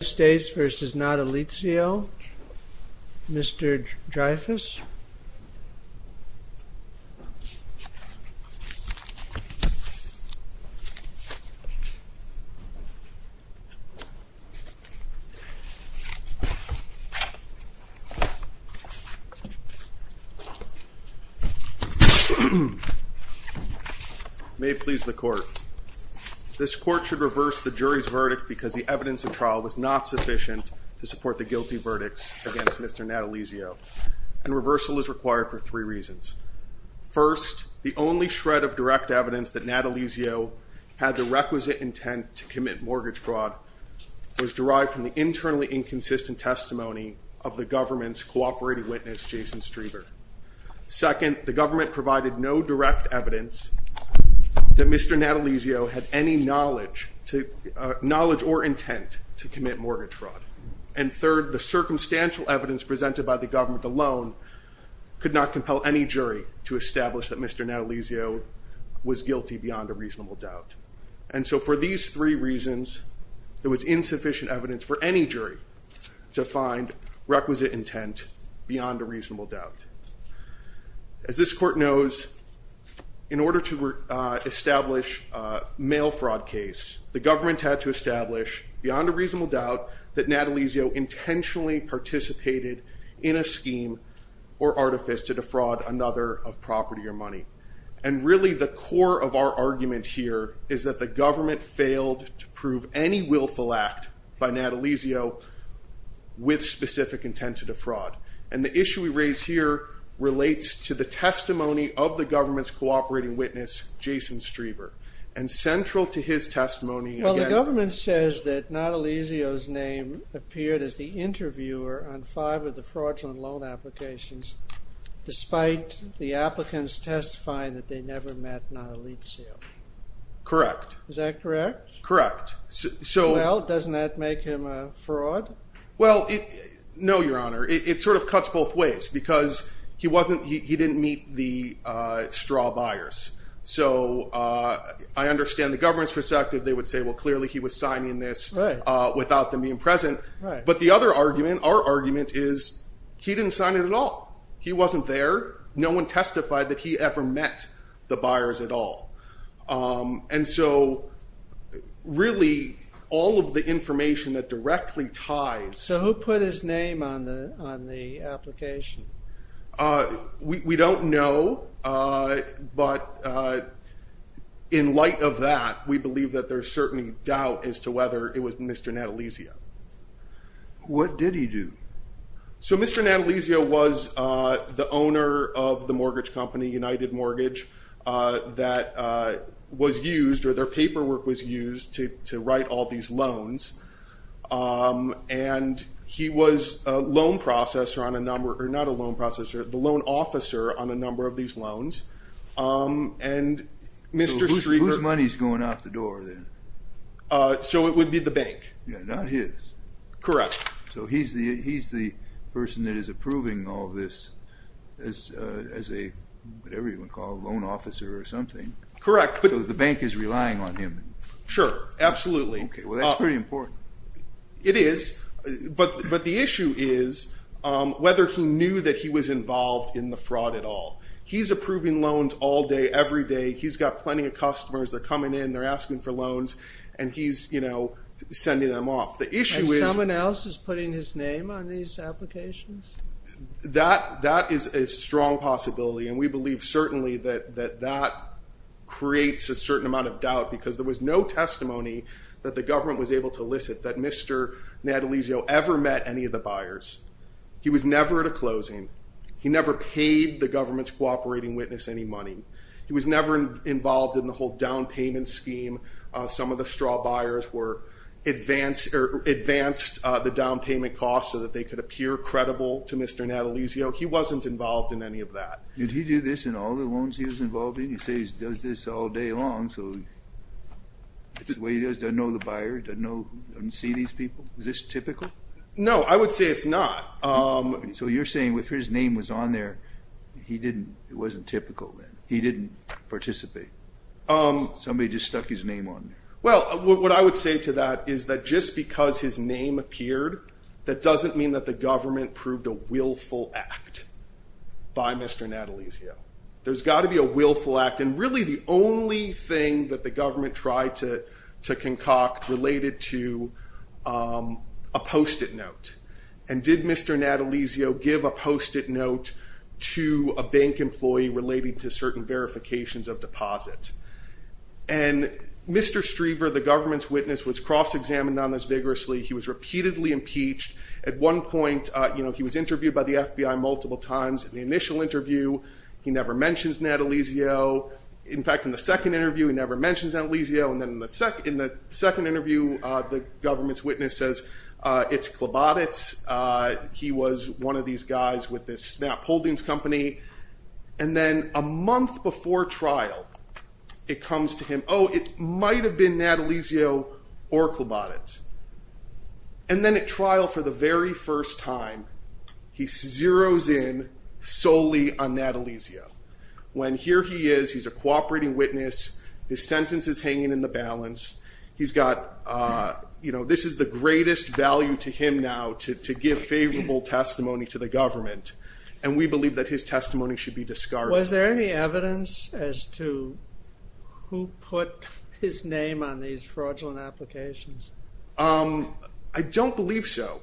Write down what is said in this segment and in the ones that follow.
States v. Natalizio. Mr. Dreyfus. May it please the court. This court should reverse the jury's verdict because the jury is not sufficient to support the guilty verdicts against Mr. Natalizio and reversal is required for three reasons. First, the only shred of direct evidence that Natalizio had the requisite intent to commit mortgage fraud was derived from the internally inconsistent testimony of the government's cooperating witness Jason Streber. Second, the government provided no direct evidence that Mr. Natalizio was guilty beyond a reasonable doubt. And third, the circumstantial evidence presented by the government alone could not compel any jury to establish that Mr. Natalizio was guilty beyond a reasonable doubt. And so for these three reasons, there was insufficient evidence for any jury to find requisite intent beyond a reasonable doubt. As this court knows, in order to establish a mail fraud case, the Natalizio intentionally participated in a scheme or artifice to defraud another of property or money. And really the core of our argument here is that the government failed to prove any willful act by Natalizio with specific intent to defraud. And the issue we raise here relates to the testimony of the government's cooperating witness Jason Streber. And central to his testimony... ...is that Natalizio's name appeared as the interviewer on five of the fraudulent loan applications despite the applicants testifying that they never met Natalizio. Correct. Is that correct? Correct. So... Well, doesn't that make him a fraud? Well, no, Your Honor. It sort of cuts both ways because he wasn't... he didn't meet the straw buyers. So I understand the government's perspective. They would say, well, clearly he was signing this without them being present. But the other argument, our argument, is he didn't sign it at all. He wasn't there. No one testified that he ever met the buyers at all. And so really all of the information that directly ties... So who put his name on the application? We don't know, but in light of that, we believe that there's certainly doubt as to whether it was Mr. Natalizio. What did he do? So Mr. Natalizio was the owner of the mortgage company, United Mortgage, that was used, or their paperwork was used, to write all these loans. And he was a loan processor on a number... or not a loan processor, the loan officer on a number of these loans. And Mr. Strieber... So whose money's going out the door then? So it would be the bank. Yeah, not his. Correct. So he's the person that is approving all this as a, whatever you want to call it, a loan officer or something. Correct. So the bank is relying on him. Sure, absolutely. Okay, well that's pretty important. It is, but the issue is whether he knew that he was involved in the fraud at all. He's approving loans all day, every day. He's got plenty of customers that are coming in, they're asking for loans, and he's, you know, sending them off. The issue is... And someone else is putting his name on these applications? That is a strong possibility, and we believe certainly that that creates a certain amount of doubt, because there was no testimony that the government was able to elicit that Mr. Natalizio ever met any of the buyers. He was never at a closing. He never paid the government's cooperating witness any money. He was never involved in the whole down payment scheme. Some of the straw buyers were advanced, or advanced the down payment costs so that they could appear credible to Mr. Natalizio. He wasn't involved in any of that. Did he do this in all the loans he was involved in? He says he does this all day long, so that's the way he does it. Doesn't know the buyer, doesn't know, doesn't see these people. Is this typical? No, I would say it's not. So you're saying if his name was on there, he didn't... It wasn't typical, then. He didn't participate. Somebody just stuck his name on there. Well, what I would say to that is that just because his name appeared, that doesn't mean that the government proved a willful act by Mr. Natalizio. There's got to be a willful act, and really the only thing that the government tried to do was give a post-it note. And did Mr. Natalizio give a post-it note to a bank employee relating to certain verifications of deposits? And Mr. Striever, the government's witness, was cross-examined on this vigorously. He was repeatedly impeached. At one point, he was interviewed by the FBI multiple times. In the initial interview, he never mentions Natalizio. In fact, in the second interview, he never mentions Natalizio. And then in the second interview, the government's witness says, it's Klobotitz. He was one of these guys with this Snap Holdings company. And then a month before trial, it comes to him, oh, it might have been Natalizio or Klobotitz. And then at trial for the very first time, he zeroes in solely on Natalizio. When here he is, he's a you know, this is the greatest value to him now to give favorable testimony to the government. And we believe that his testimony should be discarded. Was there any evidence as to who put his name on these fraudulent applications? I don't believe so.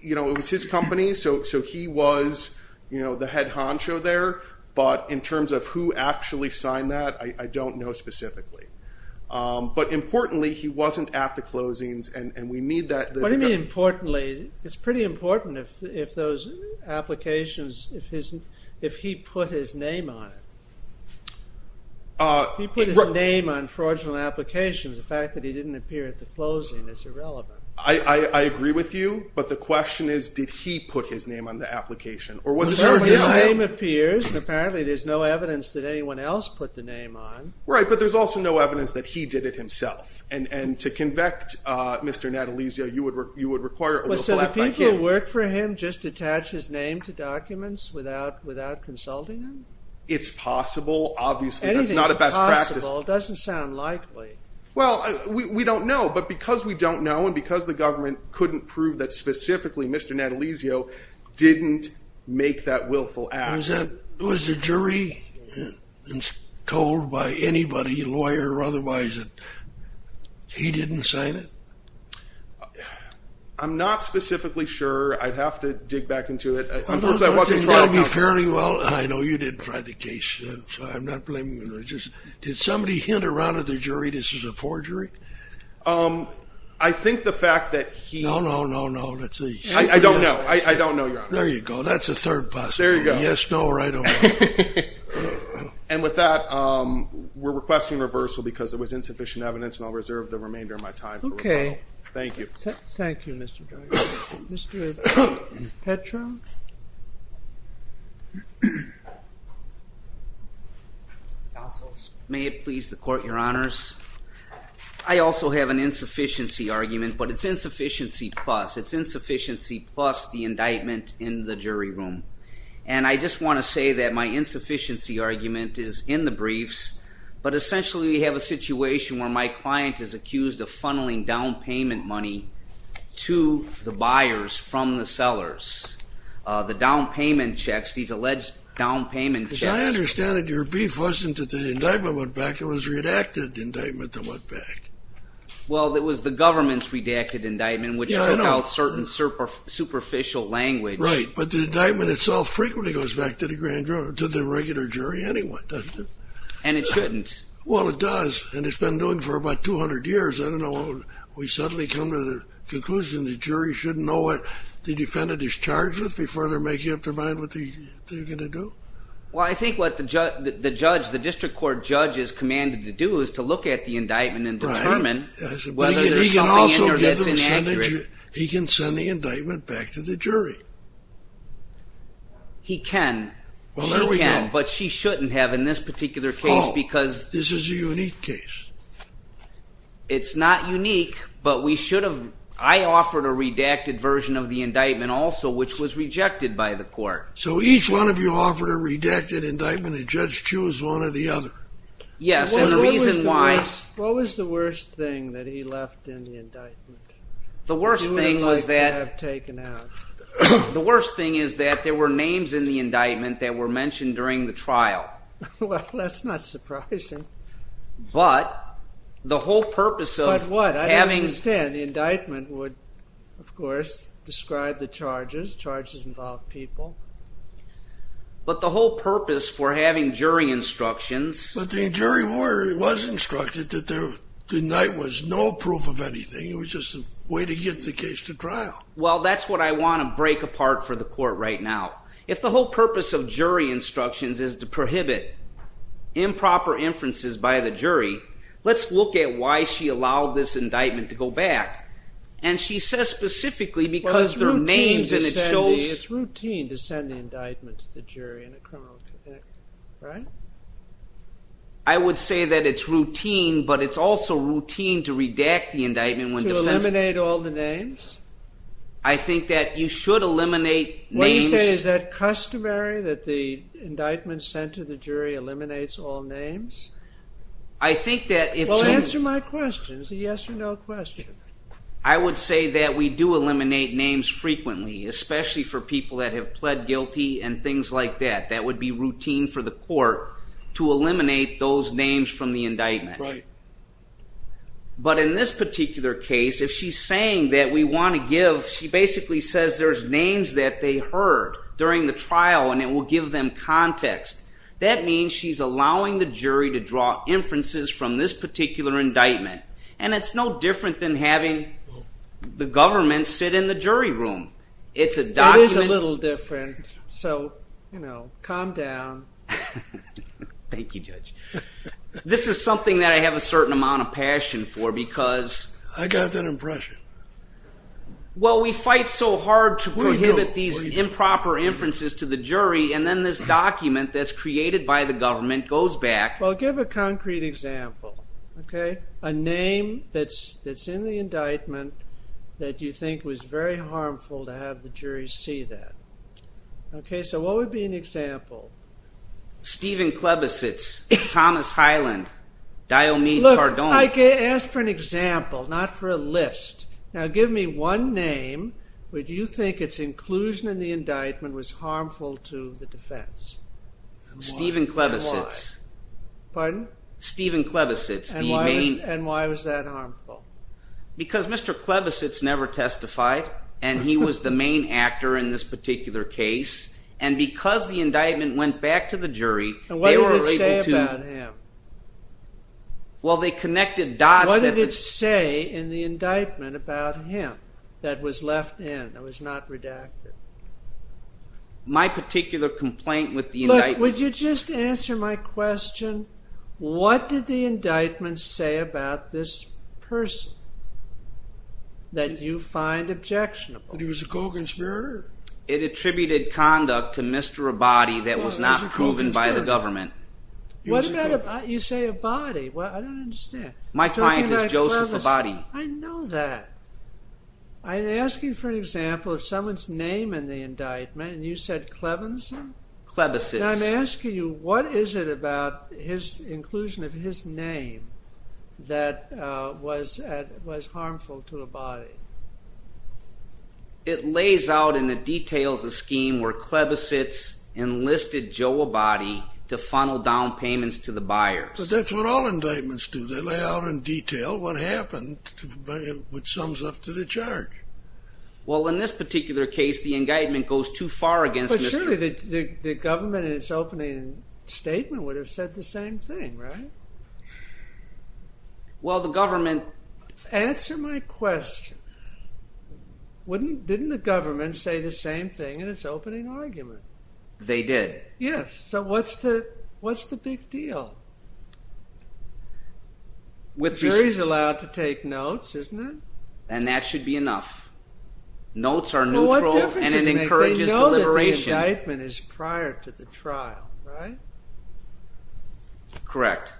You know, it was his company, so he was, you know, the head honcho there. But in terms of who actually signed that, I don't know specifically. But importantly, he wasn't at the closings. And we need that. What do you mean importantly? It's pretty important if those applications, if he put his name on it. He put his name on fraudulent applications. The fact that he didn't appear at the closing is irrelevant. I agree with you. But the question is, did he put his name on the application? Or was it? His name appears, and apparently there's no evidence that he did it himself. And to convict Mr. Natalizio, you would require a willful act by him. So the people who work for him just attach his name to documents without consulting him? It's possible. Obviously, that's not a best practice. It doesn't sound likely. Well, we don't know. But because we don't know, and because the government couldn't prove that specifically Mr. Natalizio didn't make that willful act. Was the jury told by anybody, lawyer or otherwise, that he didn't sign it? I'm not specifically sure. I'd have to dig back into it. I know you didn't try the case, so I'm not blaming you. Did somebody hint around at the jury this is a forgery? I think the fact that he... No, no, no, no. Let's see. I don't know. I don't know, Your Honor. There you go. That's a third possibility. Yes, no, or I don't know. And with that, we're requesting reversal because it was insufficient evidence, and I'll reserve the remainder of my time. Okay. Thank you. Thank you, Mr. Judge. Mr. Petro? Counsel, may it please the Court, Your Honors. I also have an insufficiency argument, but it's in the jury room, and I just want to say that my insufficiency argument is in the briefs, but essentially we have a situation where my client is accused of funneling down payment money to the buyers from the sellers. The down payment checks, these alleged down payment checks... Because I understand that your brief wasn't that the indictment went back. It was redacted indictment that went back. Well, it was the government's redacted indictment, which took certain superficial language. Right, but the indictment itself frequently goes back to the grand jury, to the regular jury anyway, doesn't it? And it shouldn't. Well, it does, and it's been doing for about 200 years. I don't know. We suddenly come to the conclusion the jury shouldn't know what the defendant is charged with before they're making up their mind what they're going to do. Well, I think what the judge, the district court judge is commanded to do is to look at the indictment back to the jury. He can. Well, there we go. But she shouldn't have in this particular case because... Oh, this is a unique case. It's not unique, but we should have... I offered a redacted version of the indictment also, which was rejected by the court. So each one of you offered a redacted indictment, and judge choose one or the other. Yes, and the reason why... What was the worst thing that he left in the indictment that you would have liked to have taken out? The worst thing is that there were names in the indictment that were mentioned during the trial. Well, that's not surprising. But the whole purpose of... But what? I don't understand. The indictment would, of course, describe the charges. Charges involve people. But the whole good night was no proof of anything. It was just a way to get the case to trial. Well, that's what I want to break apart for the court right now. If the whole purpose of jury instructions is to prohibit improper inferences by the jury, let's look at why she allowed this indictment to go back. And she says specifically because their names and it shows... It's routine to send the it's also routine to redact the indictment... To eliminate all the names? I think that you should eliminate names. What do you say? Is that customary that the indictment sent to the jury eliminates all names? I think that if... Well, answer my question. It's a yes or no question. I would say that we do eliminate names frequently, especially for people that have pled guilty and things like that. That would be routine for the court to eliminate those names from the indictment. Right. But in this particular case, if she's saying that we want to give... She basically says there's names that they heard during the trial and it will give them context. That means she's allowing the jury to draw inferences from this particular indictment. And it's no different than having the government sit in the jury room. It's a document... It is a little different, so you know, calm down. Thank you, Judge. This is something that I have a certain amount of passion for because... I got that impression. Well, we fight so hard to prohibit these improper inferences to the jury and then this document that's created by the government goes back... Well, give a concrete example, okay? A name that's in the indictment that you think was very harmful to have the jury see that. Okay, so what would be an example? Stephen Klebicits, Thomas Hyland, Dione Cardone. Look, I asked for an example, not for a list. Now give me one name where you think its inclusion in the indictment was harmful to the defense. Stephen Klebicits. Pardon? Stephen Klebicits. And why was that harmful? Because Mr. Klebicits never testified and he was the main actor in this particular case and because the indictment went back to the jury, they were able to... And what did it say about him? Well, they connected dots... What did it say in the indictment about him that was left in, that was not redacted? My particular complaint with the indictment... Look, would you just answer my question? What did the indictment say about this person that you find objectionable? That he was a co-conspirator? It attributed conduct to Mr. Abadie that was not proven by the government. What about... You say Abadie. Well, I don't understand. My client is Joseph Abadie. I know that. I'm asking for an example of someone's name in the indictment and you said Clevenson? Klebicits. And I'm asking you, what is it about his inclusion of his name that was harmful to Abadie? It lays out in the details a scheme where Klebicits enlisted Joe Abadie to funnel down payments to the buyers. But that's what all indictments do. They lay out in detail what happened, which sums up to the charge. Well, in this particular case, the indictment goes too far against Mr. Abadie. But surely the government in its opening statement would have said the same thing, right? Well, the government... Answer my question. Didn't the government say the same thing in its opening argument? They did. Yes. So what's the big deal? The jury's allowed to take notes, isn't it? And that should be enough. Notes are neutral and it encourages deliberation. They know that the indictment is prior to the trial, right? Correct.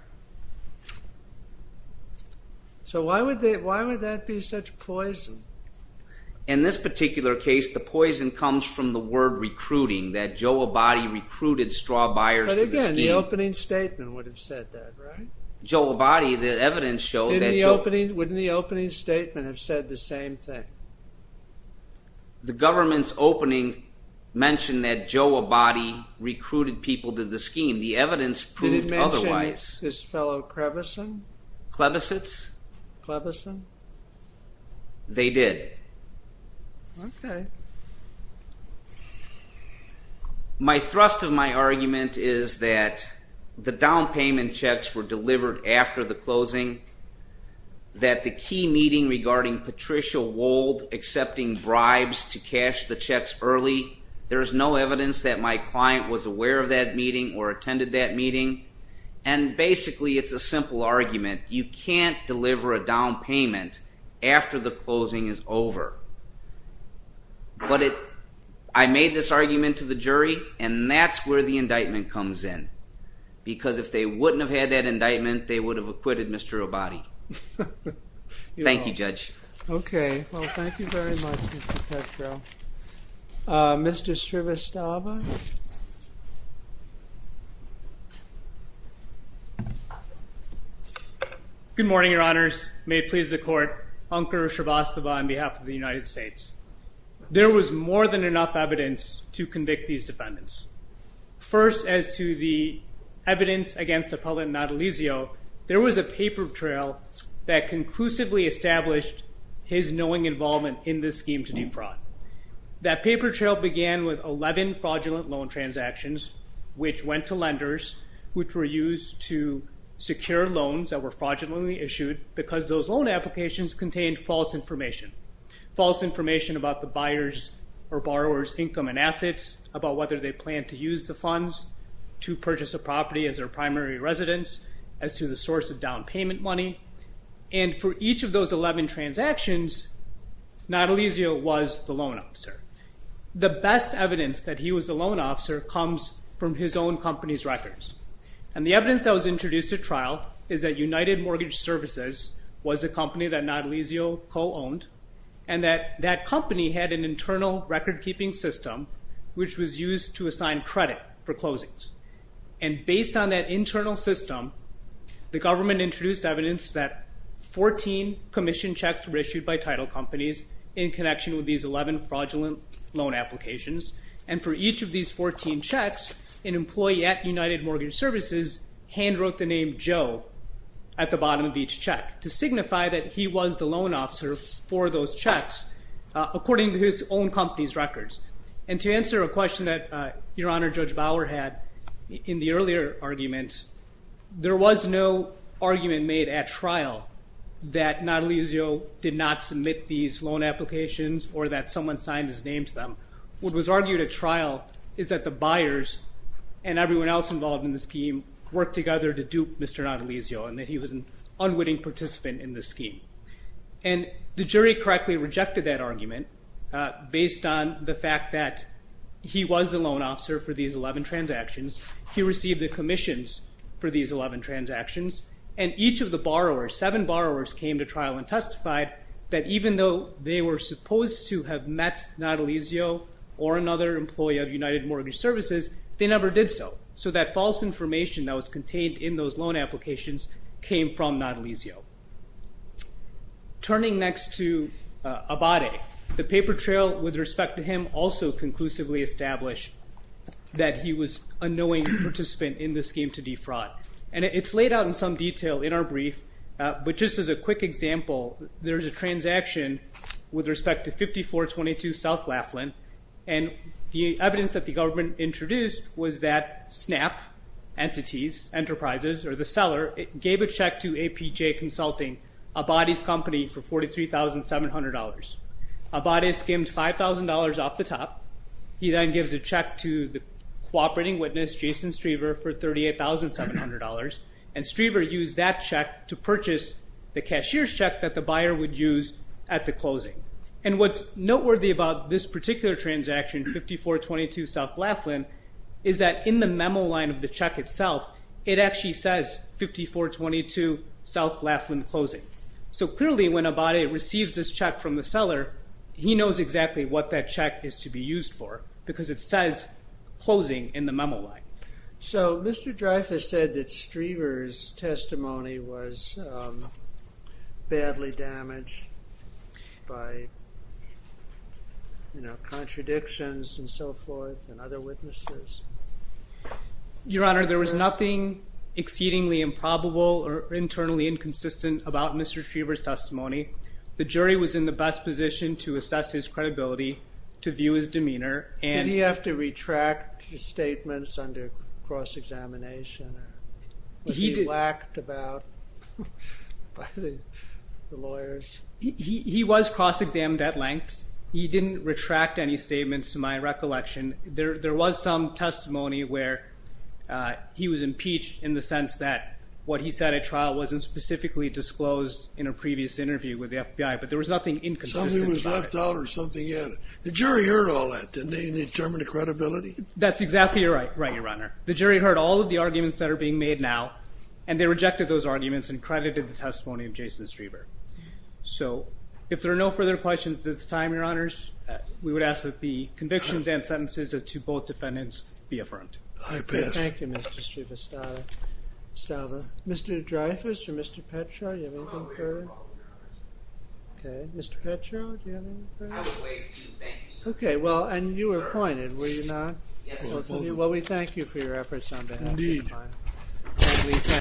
So why would that be such poison? In this particular case, the poison comes from the word recruiting, that Joe Abadie recruited straw buyers to the scheme. But again, the opening statement would have said that, right? Joe Abadie, the evidence showed that... Wouldn't the opening statement have said the same thing? The government's opening mentioned that Joe Abadie recruited people to the scheme. The evidence proved otherwise. Did it mention his fellow clevison? Clevisits? Clevison? They did. Okay. My thrust of my argument is that the down payment checks were delivered after the closing, that the key meeting regarding Patricia Wold accepting bribes to cash the checks early, there's no evidence that my client was aware of that meeting or attended that meeting. And basically, it's a simple argument. You can't deliver a down payment after the closing is over. But I made this argument to the jury and that's where the indictment comes in. Because if they wouldn't have had that indictment, they would have acquitted Mr. Abadie. Thank you, Judge. Okay. Well, thank you very much, Mr. Petro. Mr. Srivastava? Good morning, your honors. May it please the court. Ankur Srivastava on behalf of the United States. There was more than enough evidence to convict these defendants. First, as to the evidence against Appellant Natalizio, there was a paper trail that conclusively established his knowing involvement in this scheme to defraud. That paper trail began with 11 fraudulent loan transactions, which went to lenders, which were used to secure loans that were fraudulently issued because those applications contained false information. False information about the buyer's or borrower's income and assets, about whether they plan to use the funds to purchase a property as their primary residence, as to the source of down payment money. And for each of those 11 transactions, Natalizio was the loan officer. The best evidence that he was a loan officer comes from his own company's records. And the evidence that was introduced at trial is that United Natalizio was a company that Natalizio co-owned, and that that company had an internal record-keeping system, which was used to assign credit for closings. And based on that internal system, the government introduced evidence that 14 commission checks were issued by title companies in connection with these 11 fraudulent loan applications. And for each of these 14 checks, an employee at United Mortgage Services handwrote the name Joe at the bottom of each check to signify that he was the loan officer for those checks, according to his own company's records. And to answer a question that Your Honor, Judge Bauer had in the earlier argument, there was no argument made at trial that Natalizio did not submit these loan applications or that someone signed his name to them. What was argued at trial is that the buyers and everyone else involved in the scheme. And the jury correctly rejected that argument based on the fact that he was the loan officer for these 11 transactions, he received the commissions for these 11 transactions, and each of the borrowers, seven borrowers, came to trial and testified that even though they were supposed to have met Natalizio or another employee of United Mortgage Services, they never did so. So that false information that was contained in those loan applications came from Natalizio. Turning next to Abade, the paper trail with respect to him also conclusively established that he was a knowing participant in the scheme to defraud. And it's laid out in some detail in our brief, but just as a quick example, there's a transaction with respect to 5422 South Laughlin, and the evidence that the government introduced was that Snap Entities Enterprises, or the seller, gave a check to APJ Consulting, Abade's company, for $43,700. Abade skimmed $5,000 off the top. He then gives a check to the cooperating witness Jason Strever for $38,700, and Strever used that check to purchase the cashier's check that the buyer would use at the closing. And what's noteworthy about this particular transaction, 5422 South Laughlin, is that in the memo line of the check itself, it actually says 5422 South Laughlin Closing. So clearly when Abade receives this check from the seller, he knows exactly what that check is to be used for, because it says Closing in the memo line. So Mr. Dreyfuss said that Strever's other witnesses. Your Honor, there was nothing exceedingly improbable or internally inconsistent about Mr. Strever's testimony. The jury was in the best position to assess his credibility, to view his demeanor, and... Did he have to retract the statements under cross-examination? Was he whacked about by the lawyers? He was cross-examined at length. He didn't retract any statements to my recollection. There was some testimony where he was impeached in the sense that what he said at trial wasn't specifically disclosed in a previous interview with the FBI, but there was nothing inconsistent about it. Something was left out or something in it. The jury heard all that, didn't they? Didn't they determine the credibility? That's exactly right, Your Honor. The jury heard all of the arguments that are being made now, and they rejected those arguments and credited the testimony of Jason Strever. So if there are no further questions at this time, Your Honors, we would ask that the convictions and sentences to both defendants be affirmed. Thank you, Mr. Strever. Mr. Dreyfuss or Mr. Petro, do you have anything further? Okay, Mr. Petro, do you have anything further? I have a waive to thank you, sir. Okay, well, and you were appointed, were you not? Yes, I was. Well, we thank you for your efforts on behalf of the defendant.